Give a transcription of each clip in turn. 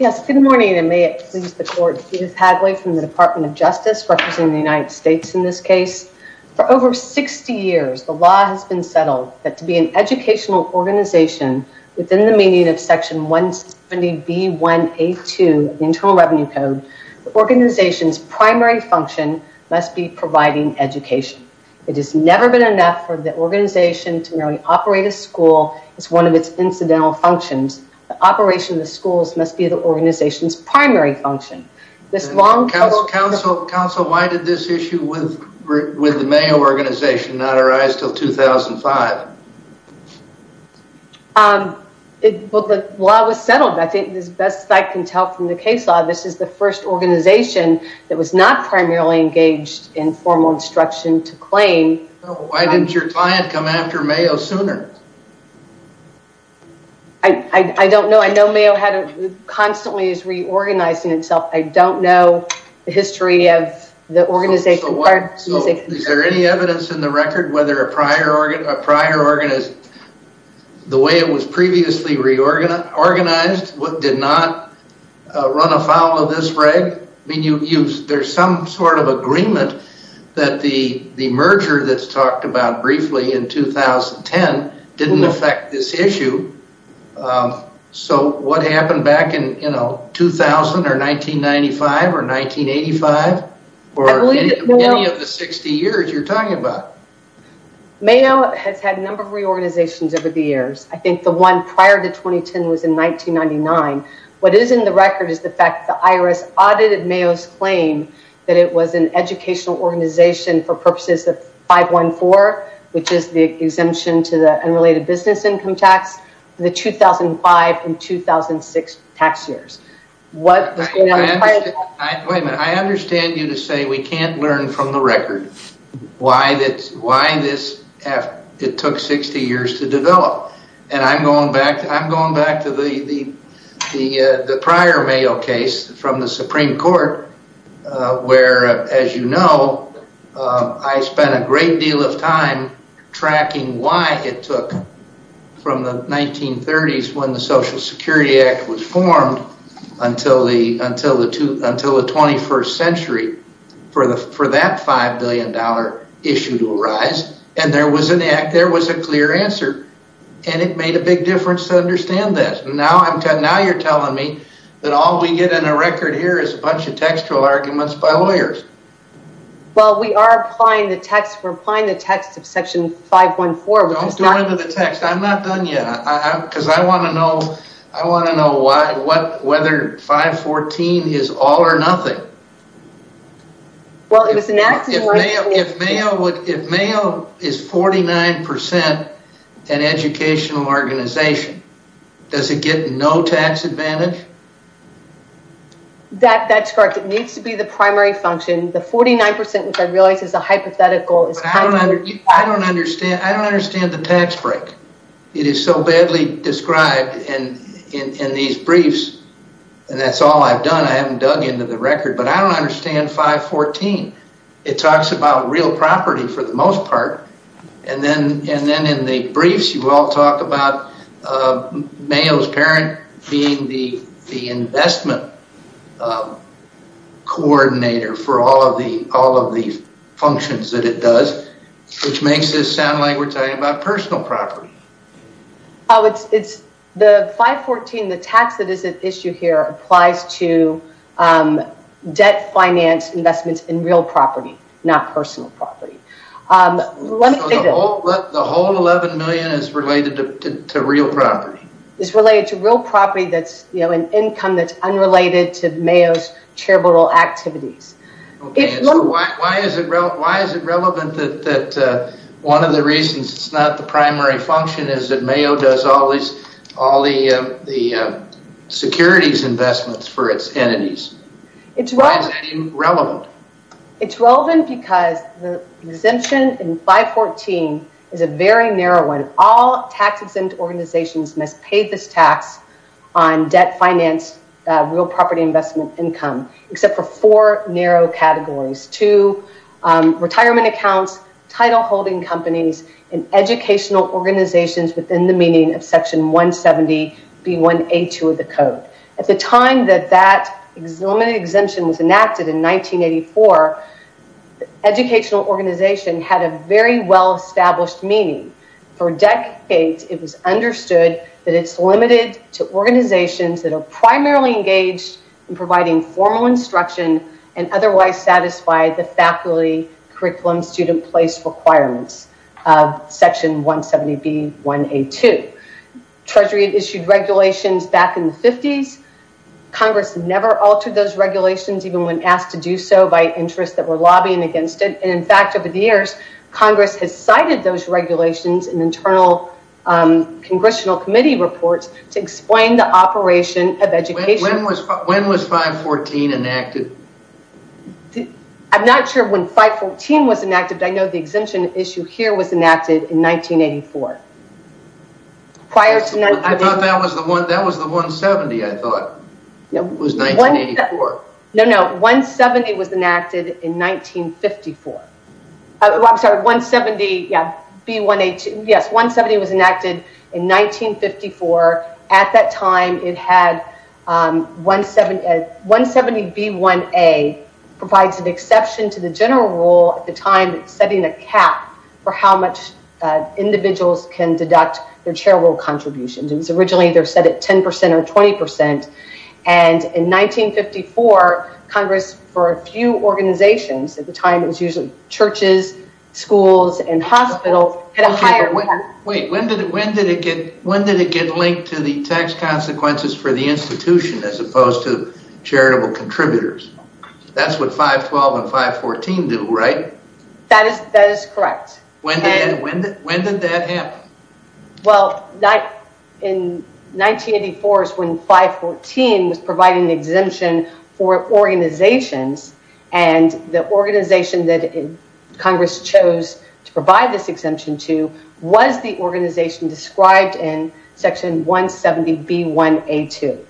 Yes, good morning and may it please the court, Judith Hadley from the Department of Justice representing the United States in this case. For over 60 years, the law has been settled that to be an educational organization within the meaning of Section 170B1A2 of the Internal Revenue Code, the organization's primary function must be providing education. It has never been enough for the organization to merely operate a school as one of its incidental operations. The schools must be the organization's primary function. Counsel, why did this issue with the Mayo organization not arise until 2005? Well, the law was settled. I think the best I can tell from the case law, this is the first organization that was not primarily engaged in formal instruction to claim. Why did your client come after Mayo sooner? I don't know. I know Mayo constantly is reorganizing itself. I don't know the history of the organization. Is there any evidence in the record whether a prior organization, the way it was previously reorganized, did not run afoul of this reg? I mean, there's some sort of agreement that the merger that's talked about briefly in 2010 didn't affect this issue. So what happened back in 2000 or 1995 or 1985 or any of the 60 years you're talking about? Mayo has had a number of reorganizations over the years. I think the one prior to 2010 was in 1999. What is in the record is the fact that the IRS audited Mayo's claim that it was an educational organization for purposes of 514, which is the exemption to the unrelated business income tax, the 2005 and 2006 tax years. Wait a minute. I understand you to say we can't learn from the prior Mayo case from the Supreme Court, where, as you know, I spent a great deal of time tracking why it took from the 1930s when the Social Security Act was formed until the 21st century for that $5 billion issue to arise. And there was a clear answer. And it made a big difference. You're telling me that all we get in the record here is a bunch of textual arguments by lawyers. Well, we are applying the text. We're applying the text of Section 514. Don't go into the text. I'm not done yet. Because I want to know whether 514 is all or nothing. If Mayo is 49% an educational organization, does it get no tax advantage? That's correct. It needs to be the primary function. The 49%, which I realize is a hypothetical. I don't understand the tax break. It is so badly described in these briefs. That's all I've done. I haven't dug into the record. But I don't understand 514. It talks about real property for the most part. And then in the briefs, you all talk about Mayo's parent being the investment coordinator for all of the functions that it does, which makes it sound like we're talking about personal property. Oh, it's the 514, the tax that is at issue here applies to debt finance investments in real property, not personal property. The whole $11 million is related to real property. It's related to real property that's an income that's unrelated to Mayo's charitable activities. Okay. So why is it relevant that one of the reasons it's not the primary function is that Mayo does all the securities investments for its entities? Why is that relevant? It's relevant because the exemption in 514 is a very narrow one. All tax exempt organizations must pay this tax on debt finance, real property investment income, except for four narrow categories. Two, retirement accounts, title holding companies, and educational organizations within the meaning of section 170B1A2 of the code. At the time that that limited exemption was enacted in 1984, educational organization had a very well-established meaning. For decades, it was understood that it's limited to organizations that are primarily engaged in providing formal instruction and otherwise satisfy the faculty curriculum student place requirements of section 170B1A2. Treasury issued regulations back in the 50s. Congress never altered those regulations even when asked to do so by interests that were lobbying against it. And in the years, Congress has cited those regulations in internal congressional committee reports to explain the operation of education. When was 514 enacted? I'm not sure when 514 was enacted. I know the exemption issue here was enacted in 1984. That was the 170, I thought. It was 1984. No, no. 170 was enacted in 1954. I'm sorry, 170B1A2. Yes, 170 was enacted in 1954. At that time, it had 170B1A provides an exception to the general rule at the time setting a cap for how much individuals can deduct their charitable contributions. It was originally set at 10% or 20%. And in 1954, Congress, for a few organizations at the time, it was usually churches, schools, and hospitals. Wait, when did it get linked to the tax consequences for the institution as opposed to charitable contributors? That's what 512 and 514 do, right? That is correct. When did that happen? Well, in 1984 is when 514 was providing the exemption for organizations. And the organization that Congress chose to provide this exemption to was the organization described in section 170B1A2.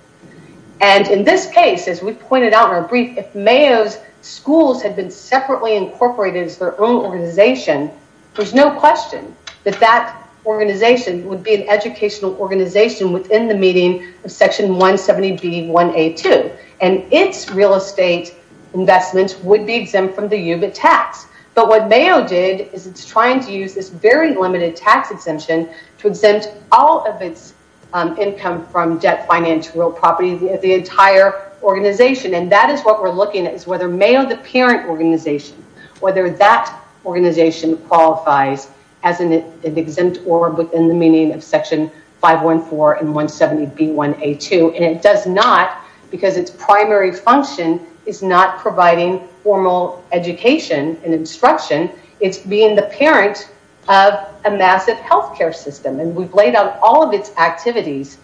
And in this case, as we pointed out in our brief, if Mayo's schools had been separately incorporated as their own organization, there's no question that that organization would be an educational organization within the meaning of section 170B1A2. And its real estate investments would be exempt from the UBIT tax. But what Mayo did is it's trying to use this very limited tax exemption to exempt all of its income from debt, finance, real property, the entire organization. And that organization qualifies as an exempt or within the meaning of section 514 and 170B1A2. And it does not because its primary function is not providing formal education and instruction. It's being the parent of a massive healthcare system. And we've laid out all of its activities.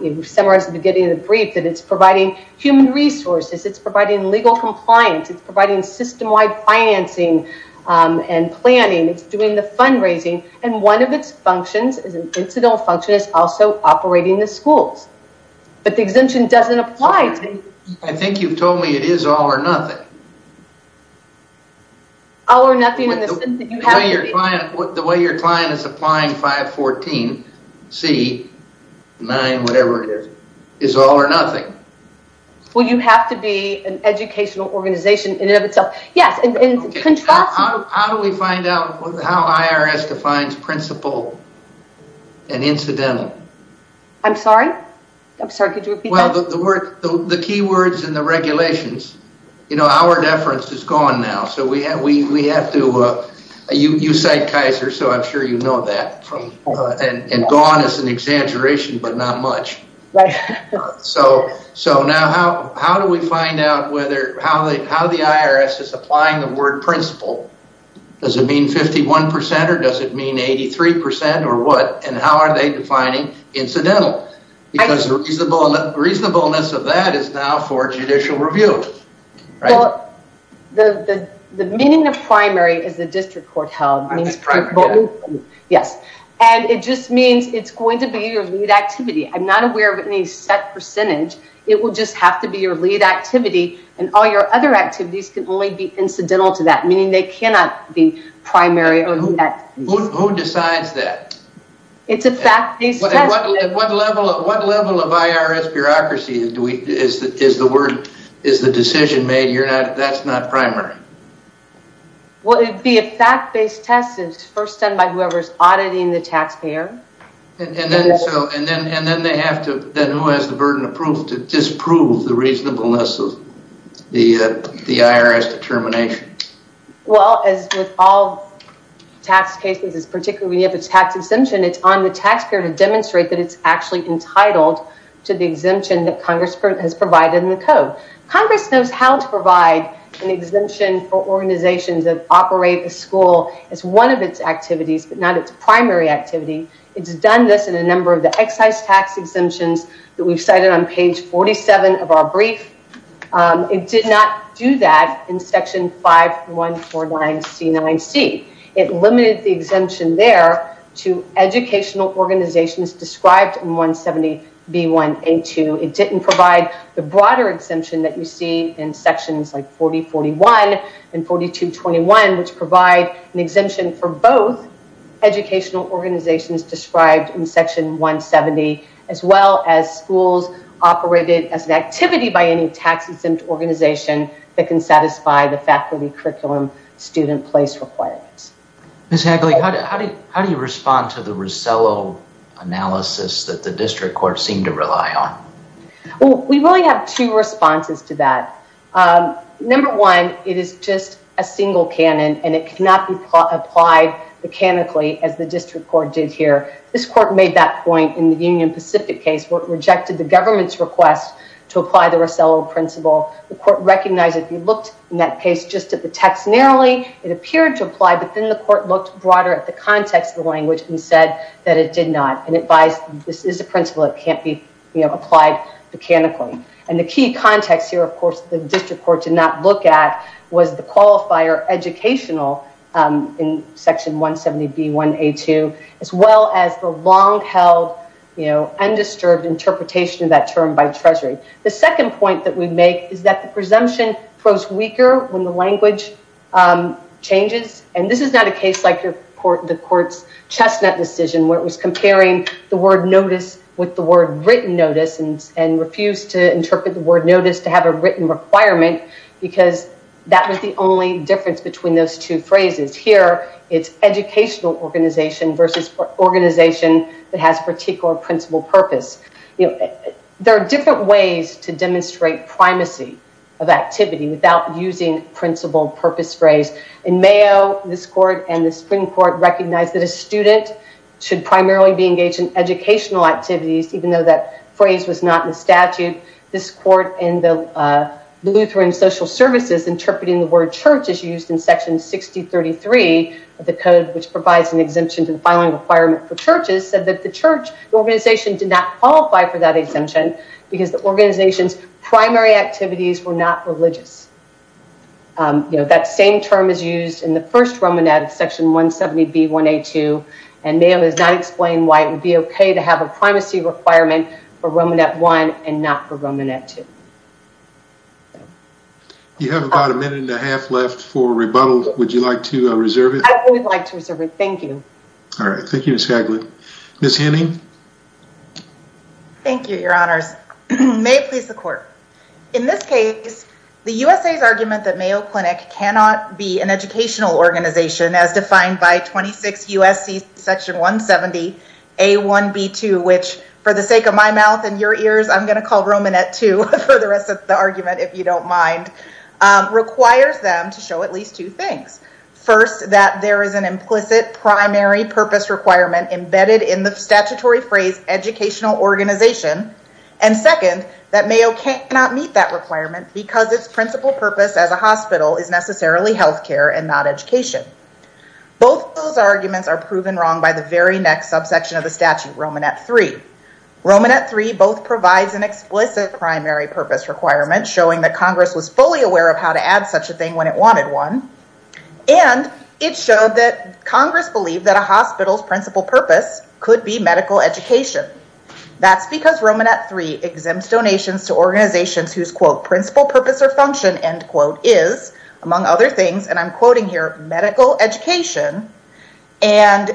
We've summarized at the beginning of the brief that it's providing human resources. It's providing legal compliance. It's providing system-wide financing and planning. It's doing the fundraising. And one of its functions is an incidental function is also operating the schools. But the exemption doesn't apply to... I think you've told me it is all or nothing. All or nothing in the sense that you have... The way your client is applying 514C9, whatever it is, is all or nothing. Well, you have to be an educational organization in and of itself. Yes. How do we find out how IRS defines principal and incidental? I'm sorry? I'm sorry. Could you repeat that? Well, the key words in the regulations, you know, our deference is gone now. So we have to... You cite Kaiser, so I'm sure you know that. And gone is an exaggeration, but not much. So now how do we find out whether... How the IRS is applying the word principal? Does it mean 51% or does it mean 83% or what? And how are they defining incidental? Because the reasonableness of that is now for judicial review, right? The meaning of primary is the district court held. Yes. And it just means it's going to be your lead activity. I'm not aware of any set percentage. It will just have to be your lead activity. And all your other activities can only be incidental to that, meaning they cannot be primary. Who decides that? It's a fact-based... What level of IRS bureaucracy is the decision made? That's not primary. Well, it'd be a fact-based test. It's first done by whoever's auditing the taxpayer. And then they have to... Then who has the burden of proof to disprove the reasonableness of the IRS determination? Well, as with all tax cases, particularly when you have a tax exemption, it's on the taxpayer to demonstrate that it's actually entitled to the exemption that Congress has provided in the code. Congress knows how to provide an exemption for organizations that operate the school as one of its activities, but not its primary activity. It's done this in a number of the excise tax exemptions that we've cited on page 47 of our brief. It did not do that in section 5149C9C. It limited the exemption there to educational organizations described in 170B1A2. It didn't provide the broader exemption that you see in sections like 4041 and 4221, which provide an exemption for both educational organizations described in section 170, as well as schools operated as an activity by any tax-exempt organization that can satisfy the faculty curriculum student place requirements. Ms. Hagley, how do you respond to the Rosello analysis that the district court seemed to rely on? Well, we really have two responses to that. Number one, it is just a single canon and it cannot be applied mechanically as the district court did here. This court made that point in the Union Pacific case, where it rejected the government's request to apply the Rosello principle. The court recognized if you looked in that case just at the text narrowly, it appeared to apply, but then the court looked broader at the context of the language and said that it did not. And it buys this is a principle that can't be applied mechanically. And the key context here, of course, the district court did not look at was the qualifier educational in section 170B1A2, as well as the long-held undisturbed interpretation of that term by Treasury. The second point that we make is that the presumption grows weaker when the language changes. And this is not a case like the court's chestnut decision, where it was comparing the word notice with the word written notice and refused to interpret the word notice to have a written requirement, because that was the only difference between those two phrases. Here, it's educational organization versus organization that has particular principle purpose. You know, there are different ways to demonstrate primacy of activity without using principle purpose phrase. In Mayo, this court and the Supreme Court recognized that a student should primarily be engaged in educational activities, even though that phrase was not in the statute. This court in the Lutheran social services interpreting the word church is used in section 6033 of the code, which provides an exemption to the filing requirement for churches, so that the church organization did not qualify for that exemption because the organization's primary activities were not religious. You know, that same term is used in the first Romanette of section 170B1A2, and Mayo has not explained why it would be okay to have a primacy requirement for Romanette 1 and not for Romanette 2. You have about a minute and a half left for rebuttal. Would you like to reserve it? I would like to reserve it. Thank you. All right. Thank you, Ms. Haglund. Ms. Hanning? Thank you, your honors. May it please the court. In this case, the USA's argument that Mayo Clinic cannot be an educational organization as defined by 26 USC section 170A1B2, which for the sake of my mouth and your ears, I'm going to call Romanette 2 for the rest of the argument, if you don't mind, requires them to show at least two things. First, that there is an implicit primary purpose requirement embedded in the statutory phrase educational organization, and second, that Mayo cannot meet that requirement because its principal purpose as a hospital is necessarily healthcare and not education. Both those arguments are proven wrong by the very next subsection of the statute, Romanette 3. Romanette 3 both provides an explicit primary purpose requirement showing that Congress was fully aware of how to add such a thing when it believed that a hospital's principal purpose could be medical education. That's because Romanette 3 exempts donations to organizations whose, quote, principal purpose or function, end quote, is, among other things, and I'm quoting here, medical education, and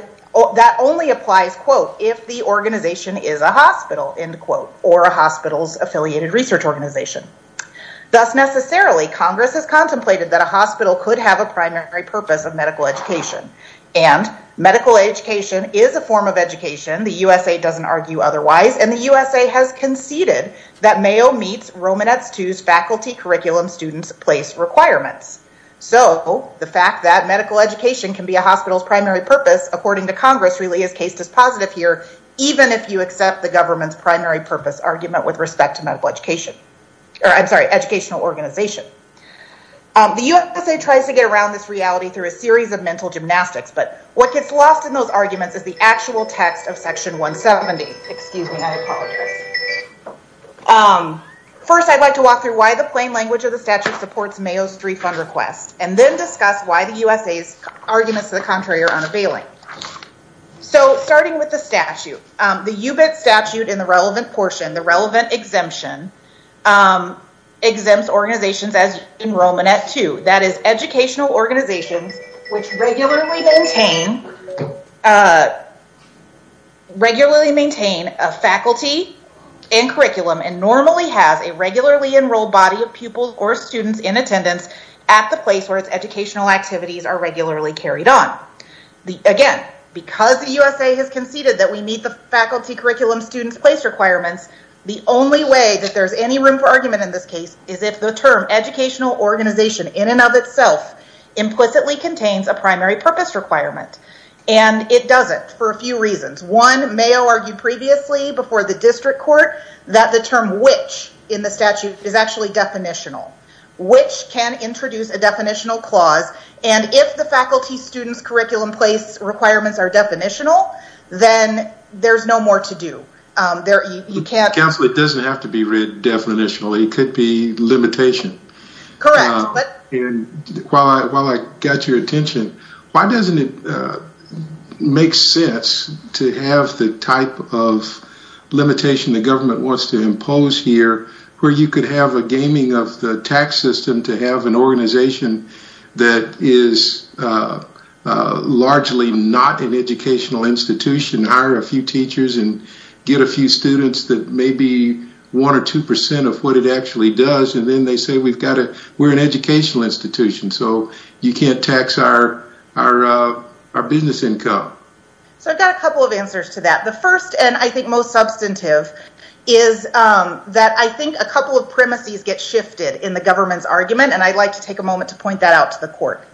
that only applies, quote, if the organization is a hospital, end quote, or a hospital's affiliated research organization. Thus, necessarily, Congress has contemplated that a hospital could have a primary purpose of medical education, and medical education is a form of education. The USA doesn't argue otherwise, and the USA has conceded that Mayo meets Romanette 2's faculty curriculum students place requirements. So the fact that medical education can be a hospital's primary purpose, according to Congress, really is case dispositive here, even if you accept the government's primary purpose argument with respect to medical education, or I'm sorry, educational organization. The USA tries to get around this reality through a series of mental gymnastics, but what gets lost in those arguments is the actual text of section 170. Excuse me, I apologize. First, I'd like to walk through why the plain language of the statute supports Mayo's three fund requests, and then discuss why the USA's arguments to the contrary are unavailing. So starting with the statute, the UBIT statute in the relevant portion, the relevant exemption, exempts organizations as in Romanette 2, that is educational organizations which regularly maintain a faculty and curriculum, and normally has a regularly enrolled body of pupils or students in attendance at the place where its educational activities are regularly carried on. Again, because the USA has conceded that we meet the faculty curriculum students place requirements, the only way that there's any room for argument in this case is if the term educational organization in and of itself implicitly contains a primary purpose requirement, and it doesn't for a few reasons. One, Mayo argued previously before the district court that the term which in the statute is actually definitional. Which can introduce a definitional clause, and if the faculty students curriculum place requirements are definitional, then there's no more to do. Counsel, it doesn't have to be read definitionally, it could be limitation. Correct. While I got your attention, why doesn't it make sense to have the type of limitation the government wants to impose here, where you could have a gaming of the tax system to have an organization that is largely not an educational institution, hire a few teachers and get a few students that may be one or two percent of what it actually does, and then they say we're an educational institution, so you can't tax our business income. I've got a couple of answers to that. The first, and I think most substantive, is that I think a couple of premises get shifted in the government's point that out to the court.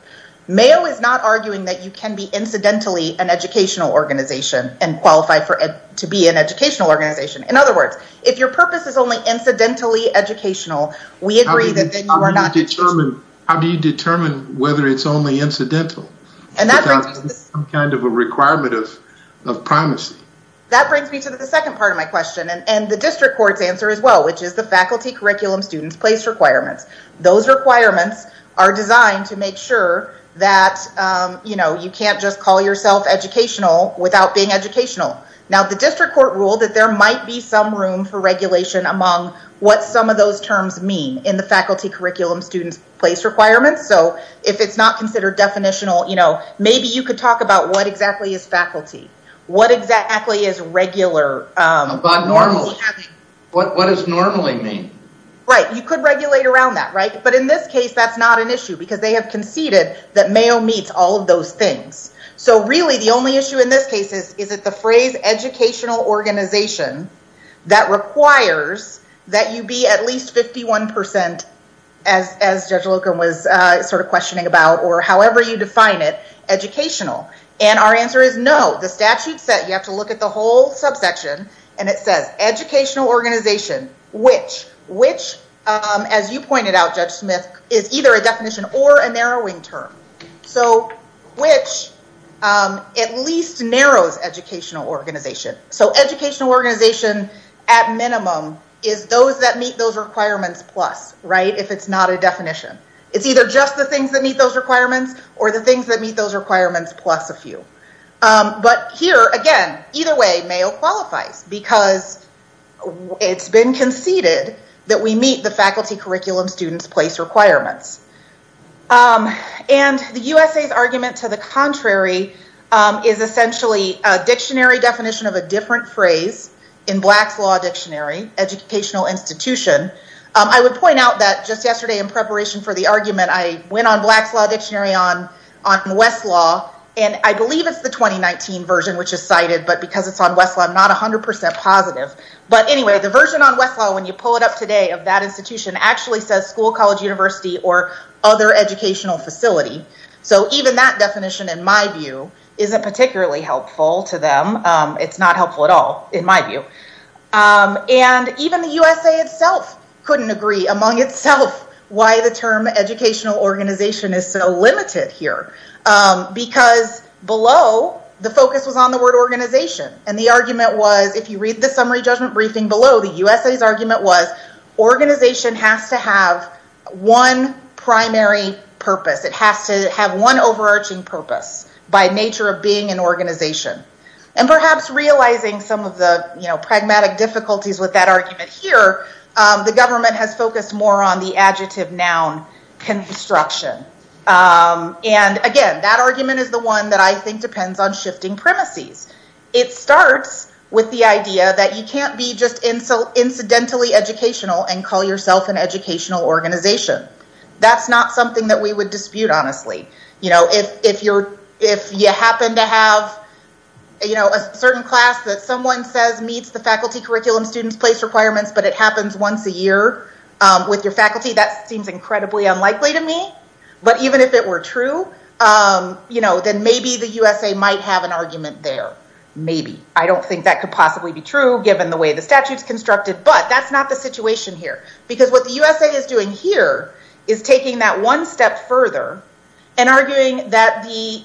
Mayo is not arguing that you can be incidentally an educational organization and qualify to be an educational organization. In other words, if your purpose is only incidentally educational, we agree that then you are not- How do you determine whether it's only incidental? Kind of a requirement of primacy. That brings me to the second part of my question, and the district court's answer as well, which is the faculty curriculum students place requirements. Those requirements are designed to make sure that you can't just call yourself educational without being educational. Now, the district court ruled that there might be some room for regulation among what some of those terms mean in the faculty curriculum students place requirements, so if it's not considered definitional, maybe you could talk about what exactly is faculty? What exactly is regular? About normal. What does normally mean? Right. You could regulate around that, but in this case, that's not an issue because they have conceded that Mayo meets all of those things. Really, the only issue in this case is, is it the phrase educational organization that requires that you be at least 51%, as Judge Loken was questioning about, or however you define it, educational? Our answer is no. The statute said you have to look at the whole subsection, and it says educational organization, which, which, as you pointed out, Judge Smith, is either a definition or a narrowing term. So, which at least narrows educational organization. So, educational organization, at minimum, is those that meet those requirements plus, right, if it's not a definition. It's either just the things that meet those requirements, or the things that meet those requirements plus a few. But here, again, either way, Mayo qualifies because it's been conceded that we meet the faculty curriculum students place requirements. And the USA's argument to the contrary is essentially a dictionary definition of a different phrase in Black's Law Dictionary, educational institution. I would point out that just yesterday in preparation for the argument, I went on Black's Law Dictionary on Westlaw, and I believe it's the 2019 version, which is cited, but because it's on Westlaw, I'm not 100% positive. But anyway, the version on Westlaw, when you pull it up today, of that institution actually says school, college, university, or other educational facility. So, even that definition, in my view, isn't particularly helpful to them. It's not helpful at all, in my view. And even the USA itself couldn't agree, among itself, why the term educational organization is so limited here. Because below, the focus was on the word organization. And the argument was, if you read the summary judgment briefing below, the USA's argument was organization has to have one primary purpose. It has to have one overarching purpose by nature of being an organization. And perhaps realizing some of the, pragmatic difficulties with that argument here, the government has focused more on the adjective noun construction. And again, that argument is the one that I think depends on shifting premises. It starts with the idea that you can't be just incidentally educational and call yourself an educational organization. That's not something that we would dispute, honestly. If you happen to have a certain class that someone says meets the faculty curriculum students place requirements, but it happens once a year with your faculty, that seems incredibly unlikely to me. But even if it were true, then maybe the USA might have an argument there. Maybe. I don't think that could possibly be true, given the way the statute's constructed. But that's not the situation here. Because what the USA is doing here is taking that one step further and arguing that the,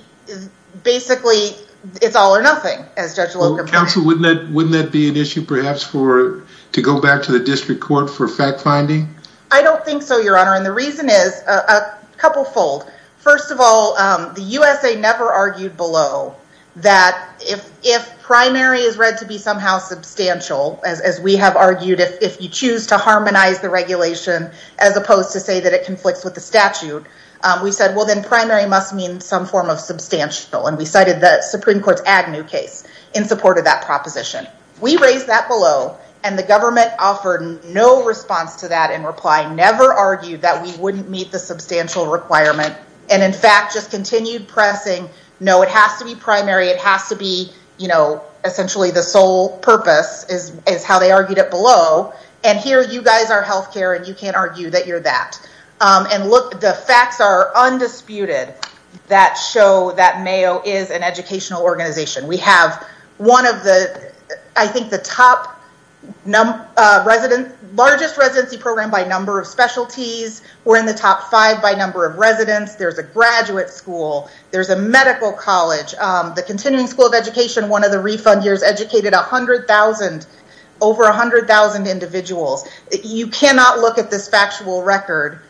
basically, it's all or nothing as Judge Locum- Counsel, wouldn't that be an issue perhaps for, to go back to the district court for fact finding? I don't think so, your honor. And the reason is a couple fold. First of all, the USA never argued below that if primary is read to be somehow substantial, as we have argued, if you choose to harmonize the regulation, as opposed to say that it conflicts with the statute, we said, well, then primary must mean some form of substantial. And we cited the Supreme Court's Agnew case in support of that proposition. We raised that below and the government offered no response to that in reply, never argued that we wouldn't meet the substantial requirement. And in fact, just continued pressing, no, it has to be primary. It has to be, you know, essentially the sole purpose is how they argued it below. And here you guys are healthcare and you can't argue that you're that. And look, the facts are undisputed that show that Mayo is an educational organization. We have one of the, I think the top, largest residency program by number of specialties. We're in the top five by number of residents. There's a graduate school. There's a medical college. The continuing school of education, one of the refund years educated a hundred thousand, over a hundred thousand individuals. You cannot look at this factual record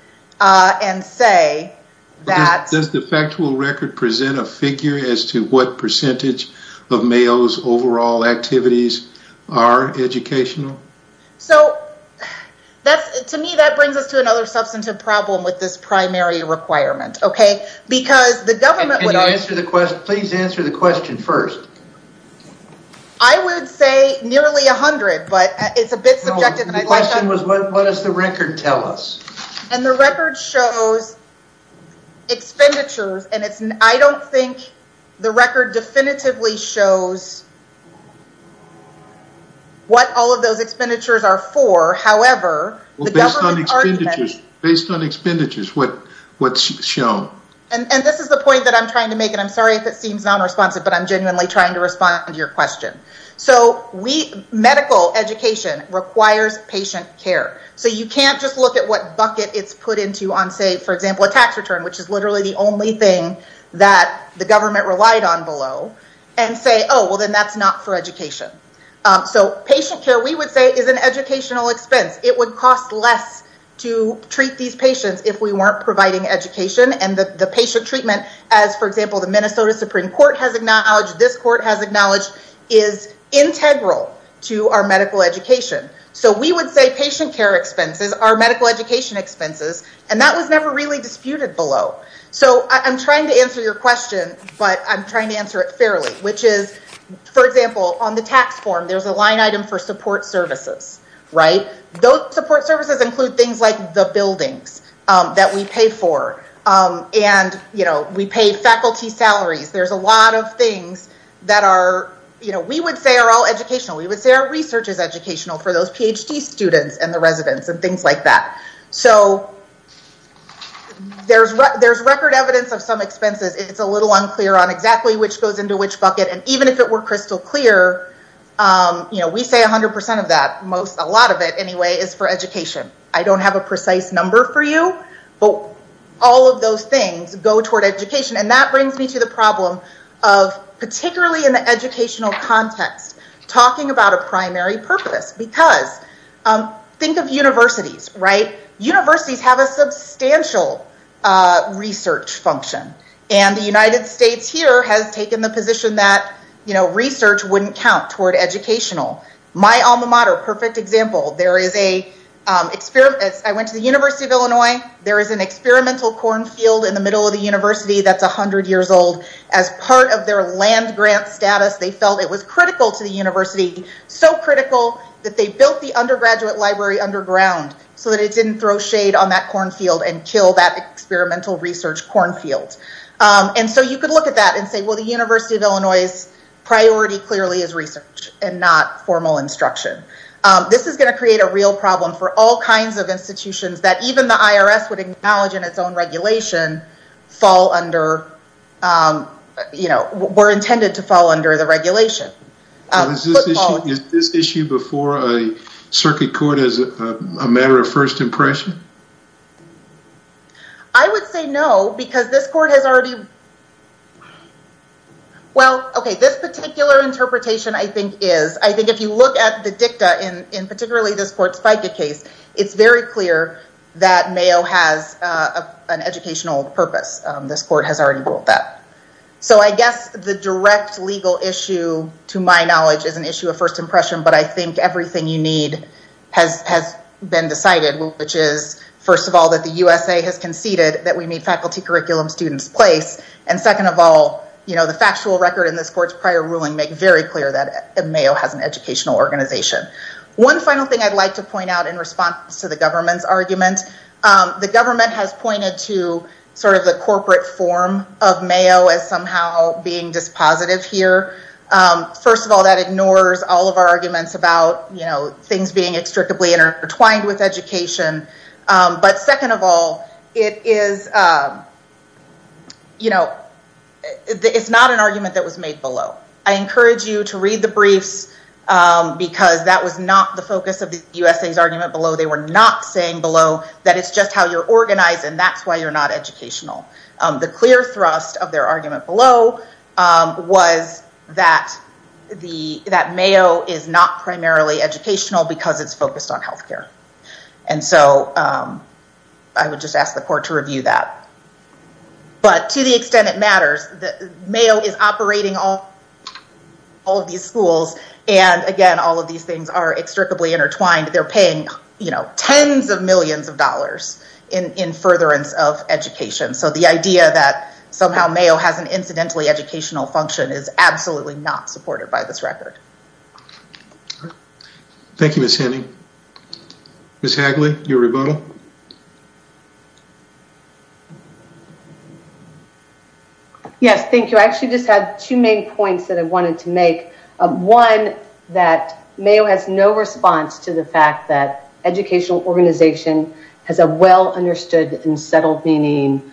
and say that- Does the factual record present a figure as to what percentage of Mayo's overall activities are educational? So that's, to me, that brings us to another substantive problem with this primary requirement. Okay. Because the government- Can you answer the question? Please answer the question first. I would say nearly a hundred, but it's a bit subjective. The question was, what does the record tell us? And the record shows expenditures and it's, I don't think the record definitively shows what all of those expenditures are for. However, based on expenditures, what's shown? And this is the point that I'm trying to make, and I'm sorry if it seems non-responsive, but I'm genuinely trying to respond to your question. So medical education requires patient care. So you can't just look at what bucket it's put into on, say, for example, a tax return, which is literally the only thing that the government relied on below, and say, oh, well then that's not for education. So patient care, we would say, is an educational expense. It would cost less to treat these patients if we weren't providing education and the patient treatment as, for example, the Minnesota Supreme Court has acknowledged, this court has acknowledged, is integral to our medical education. So we would say patient care expenses are medical education expenses, and that was never really disputed below. So I'm trying to answer your question, but I'm trying to answer it fairly, which is, for example, on the tax form, there's a line item for support services, right? Those support services include things like the buildings that we pay for, and we pay faculty salaries. There's a lot of things that we would say are all educational. We would say our research is educational for those PhD students and the residents and things like that. So there's record evidence of some expenses. It's a little unclear on exactly which goes into which bucket, and even if it were crystal clear, we say 100% of that, most, a lot of it anyway, is for education. I don't have a precise number for you, but all of those things go toward education, and that brings me to the problem of particularly in the educational context, talking about a primary purpose, because think of universities, right? Universities have a substantial research function, and the United States here has taken the position that research wouldn't count toward educational. My alma mater, perfect example. I went to the University of Illinois. There is an experimental cornfield in the middle of the university that's 100 years old. As part of their land grant status, they felt it was critical to the university, so critical that they built the undergraduate library underground so that it didn't throw shade on that cornfield and experimental research cornfield. And so you could look at that and say, well, the University of Illinois' priority clearly is research and not formal instruction. This is going to create a real problem for all kinds of institutions that even the IRS would acknowledge in its own regulation fall under, were intended to fall under the regulation. Is this issue before a circuit court as a matter of first impression? I would say no, because this court has already... Well, okay, this particular interpretation I think is, I think if you look at the dicta in particularly this court's FICA case, it's very clear that Mayo has an educational purpose. This court has already ruled that. So I guess the direct legal issue, to my knowledge, is an issue of first impression, but I think everything you need has been decided, which is, first of all, the USA has conceded that we need faculty curriculum students place, and second of all, the factual record in this court's prior ruling make very clear that Mayo has an educational organization. One final thing I'd like to point out in response to the government's argument, the government has pointed to sort of the corporate form of Mayo as somehow being dispositive here. First of all, that ignores all of our education, but second of all, it's not an argument that was made below. I encourage you to read the briefs because that was not the focus of the USA's argument below. They were not saying below that it's just how you're organized and that's why you're not educational. The clear thrust of their argument below was that Mayo is not primarily educational because it's focused on healthcare. And so I would just ask the court to review that. But to the extent it matters, Mayo is operating all of these schools, and again, all of these things are extricably intertwined. They're paying tens of millions of dollars in furtherance of education. So the idea that somehow Mayo has an incidentally educational function is absolutely not supported by this record. Thank you, Ms. Henning. Ms. Hagley, your rebuttal. Yes, thank you. I actually just had two main points that I wanted to make. One, that Mayo has no response to the fact that educational organization has a well-understood and settled meaning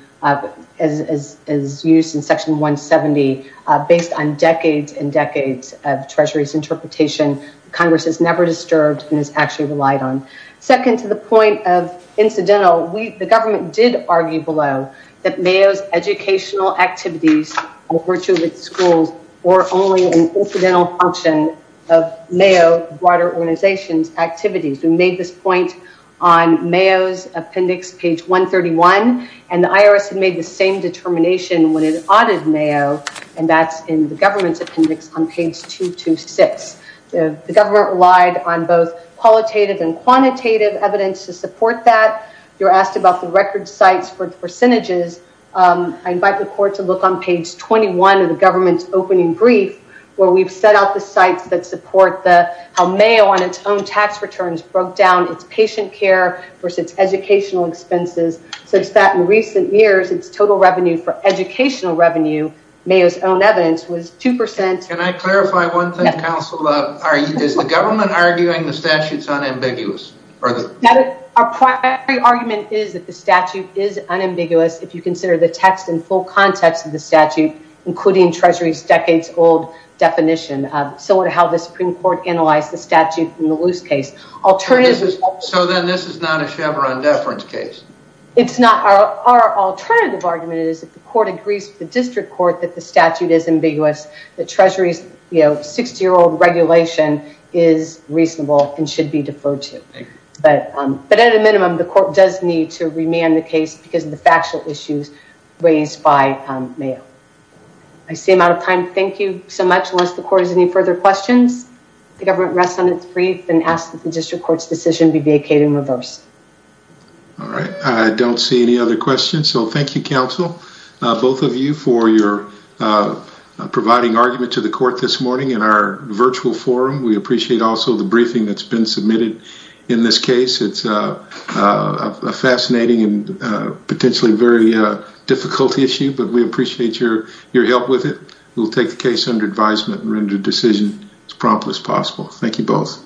as used in Section 170, based on decades and decades of Treasury's interpretation. Congress has never disturbed and has actually relied on. Second, to the point of incidental, the government did argue below that Mayo's educational activities over two of its schools were only an incidental function of Mayo's broader organization's activities. We made this on Mayo's appendix, page 131, and the IRS had made the same determination when it audited Mayo, and that's in the government's appendix on page 226. The government relied on both qualitative and quantitative evidence to support that. You're asked about the record sites for percentages. I invite the court to look on page 21 of the government's opening brief, where we've set out sites that support how Mayo, on its own tax returns, broke down its patient care versus educational expenses, such that in recent years, its total revenue for educational revenue, Mayo's own evidence, was 2%. Can I clarify one thing, counsel? Is the government arguing the statute's unambiguous? Our primary argument is that the statute is unambiguous, if you consider the text and full context of the statute, including Treasury's decades-old definition, similar to how the Supreme Court analyzed the statute in the Luce case. So then this is not a Chevron deference case? It's not. Our alternative argument is that the court agrees with the district court that the statute is ambiguous, that Treasury's 60-year-old regulation is reasonable and should be deferred to. But at a minimum, the court does need to I seem out of time. Thank you so much. Unless the court has any further questions, the government rests on its brief and asks that the district court's decision be vacated in reverse. All right. I don't see any other questions. So thank you, counsel, both of you for your providing argument to the court this morning in our virtual forum. We appreciate also the briefing that's been submitted in this case. It's a fascinating and potentially very difficult issue, but we appreciate your help with it. We'll take the case under advisement and render a decision as promptly as possible. Thank you both.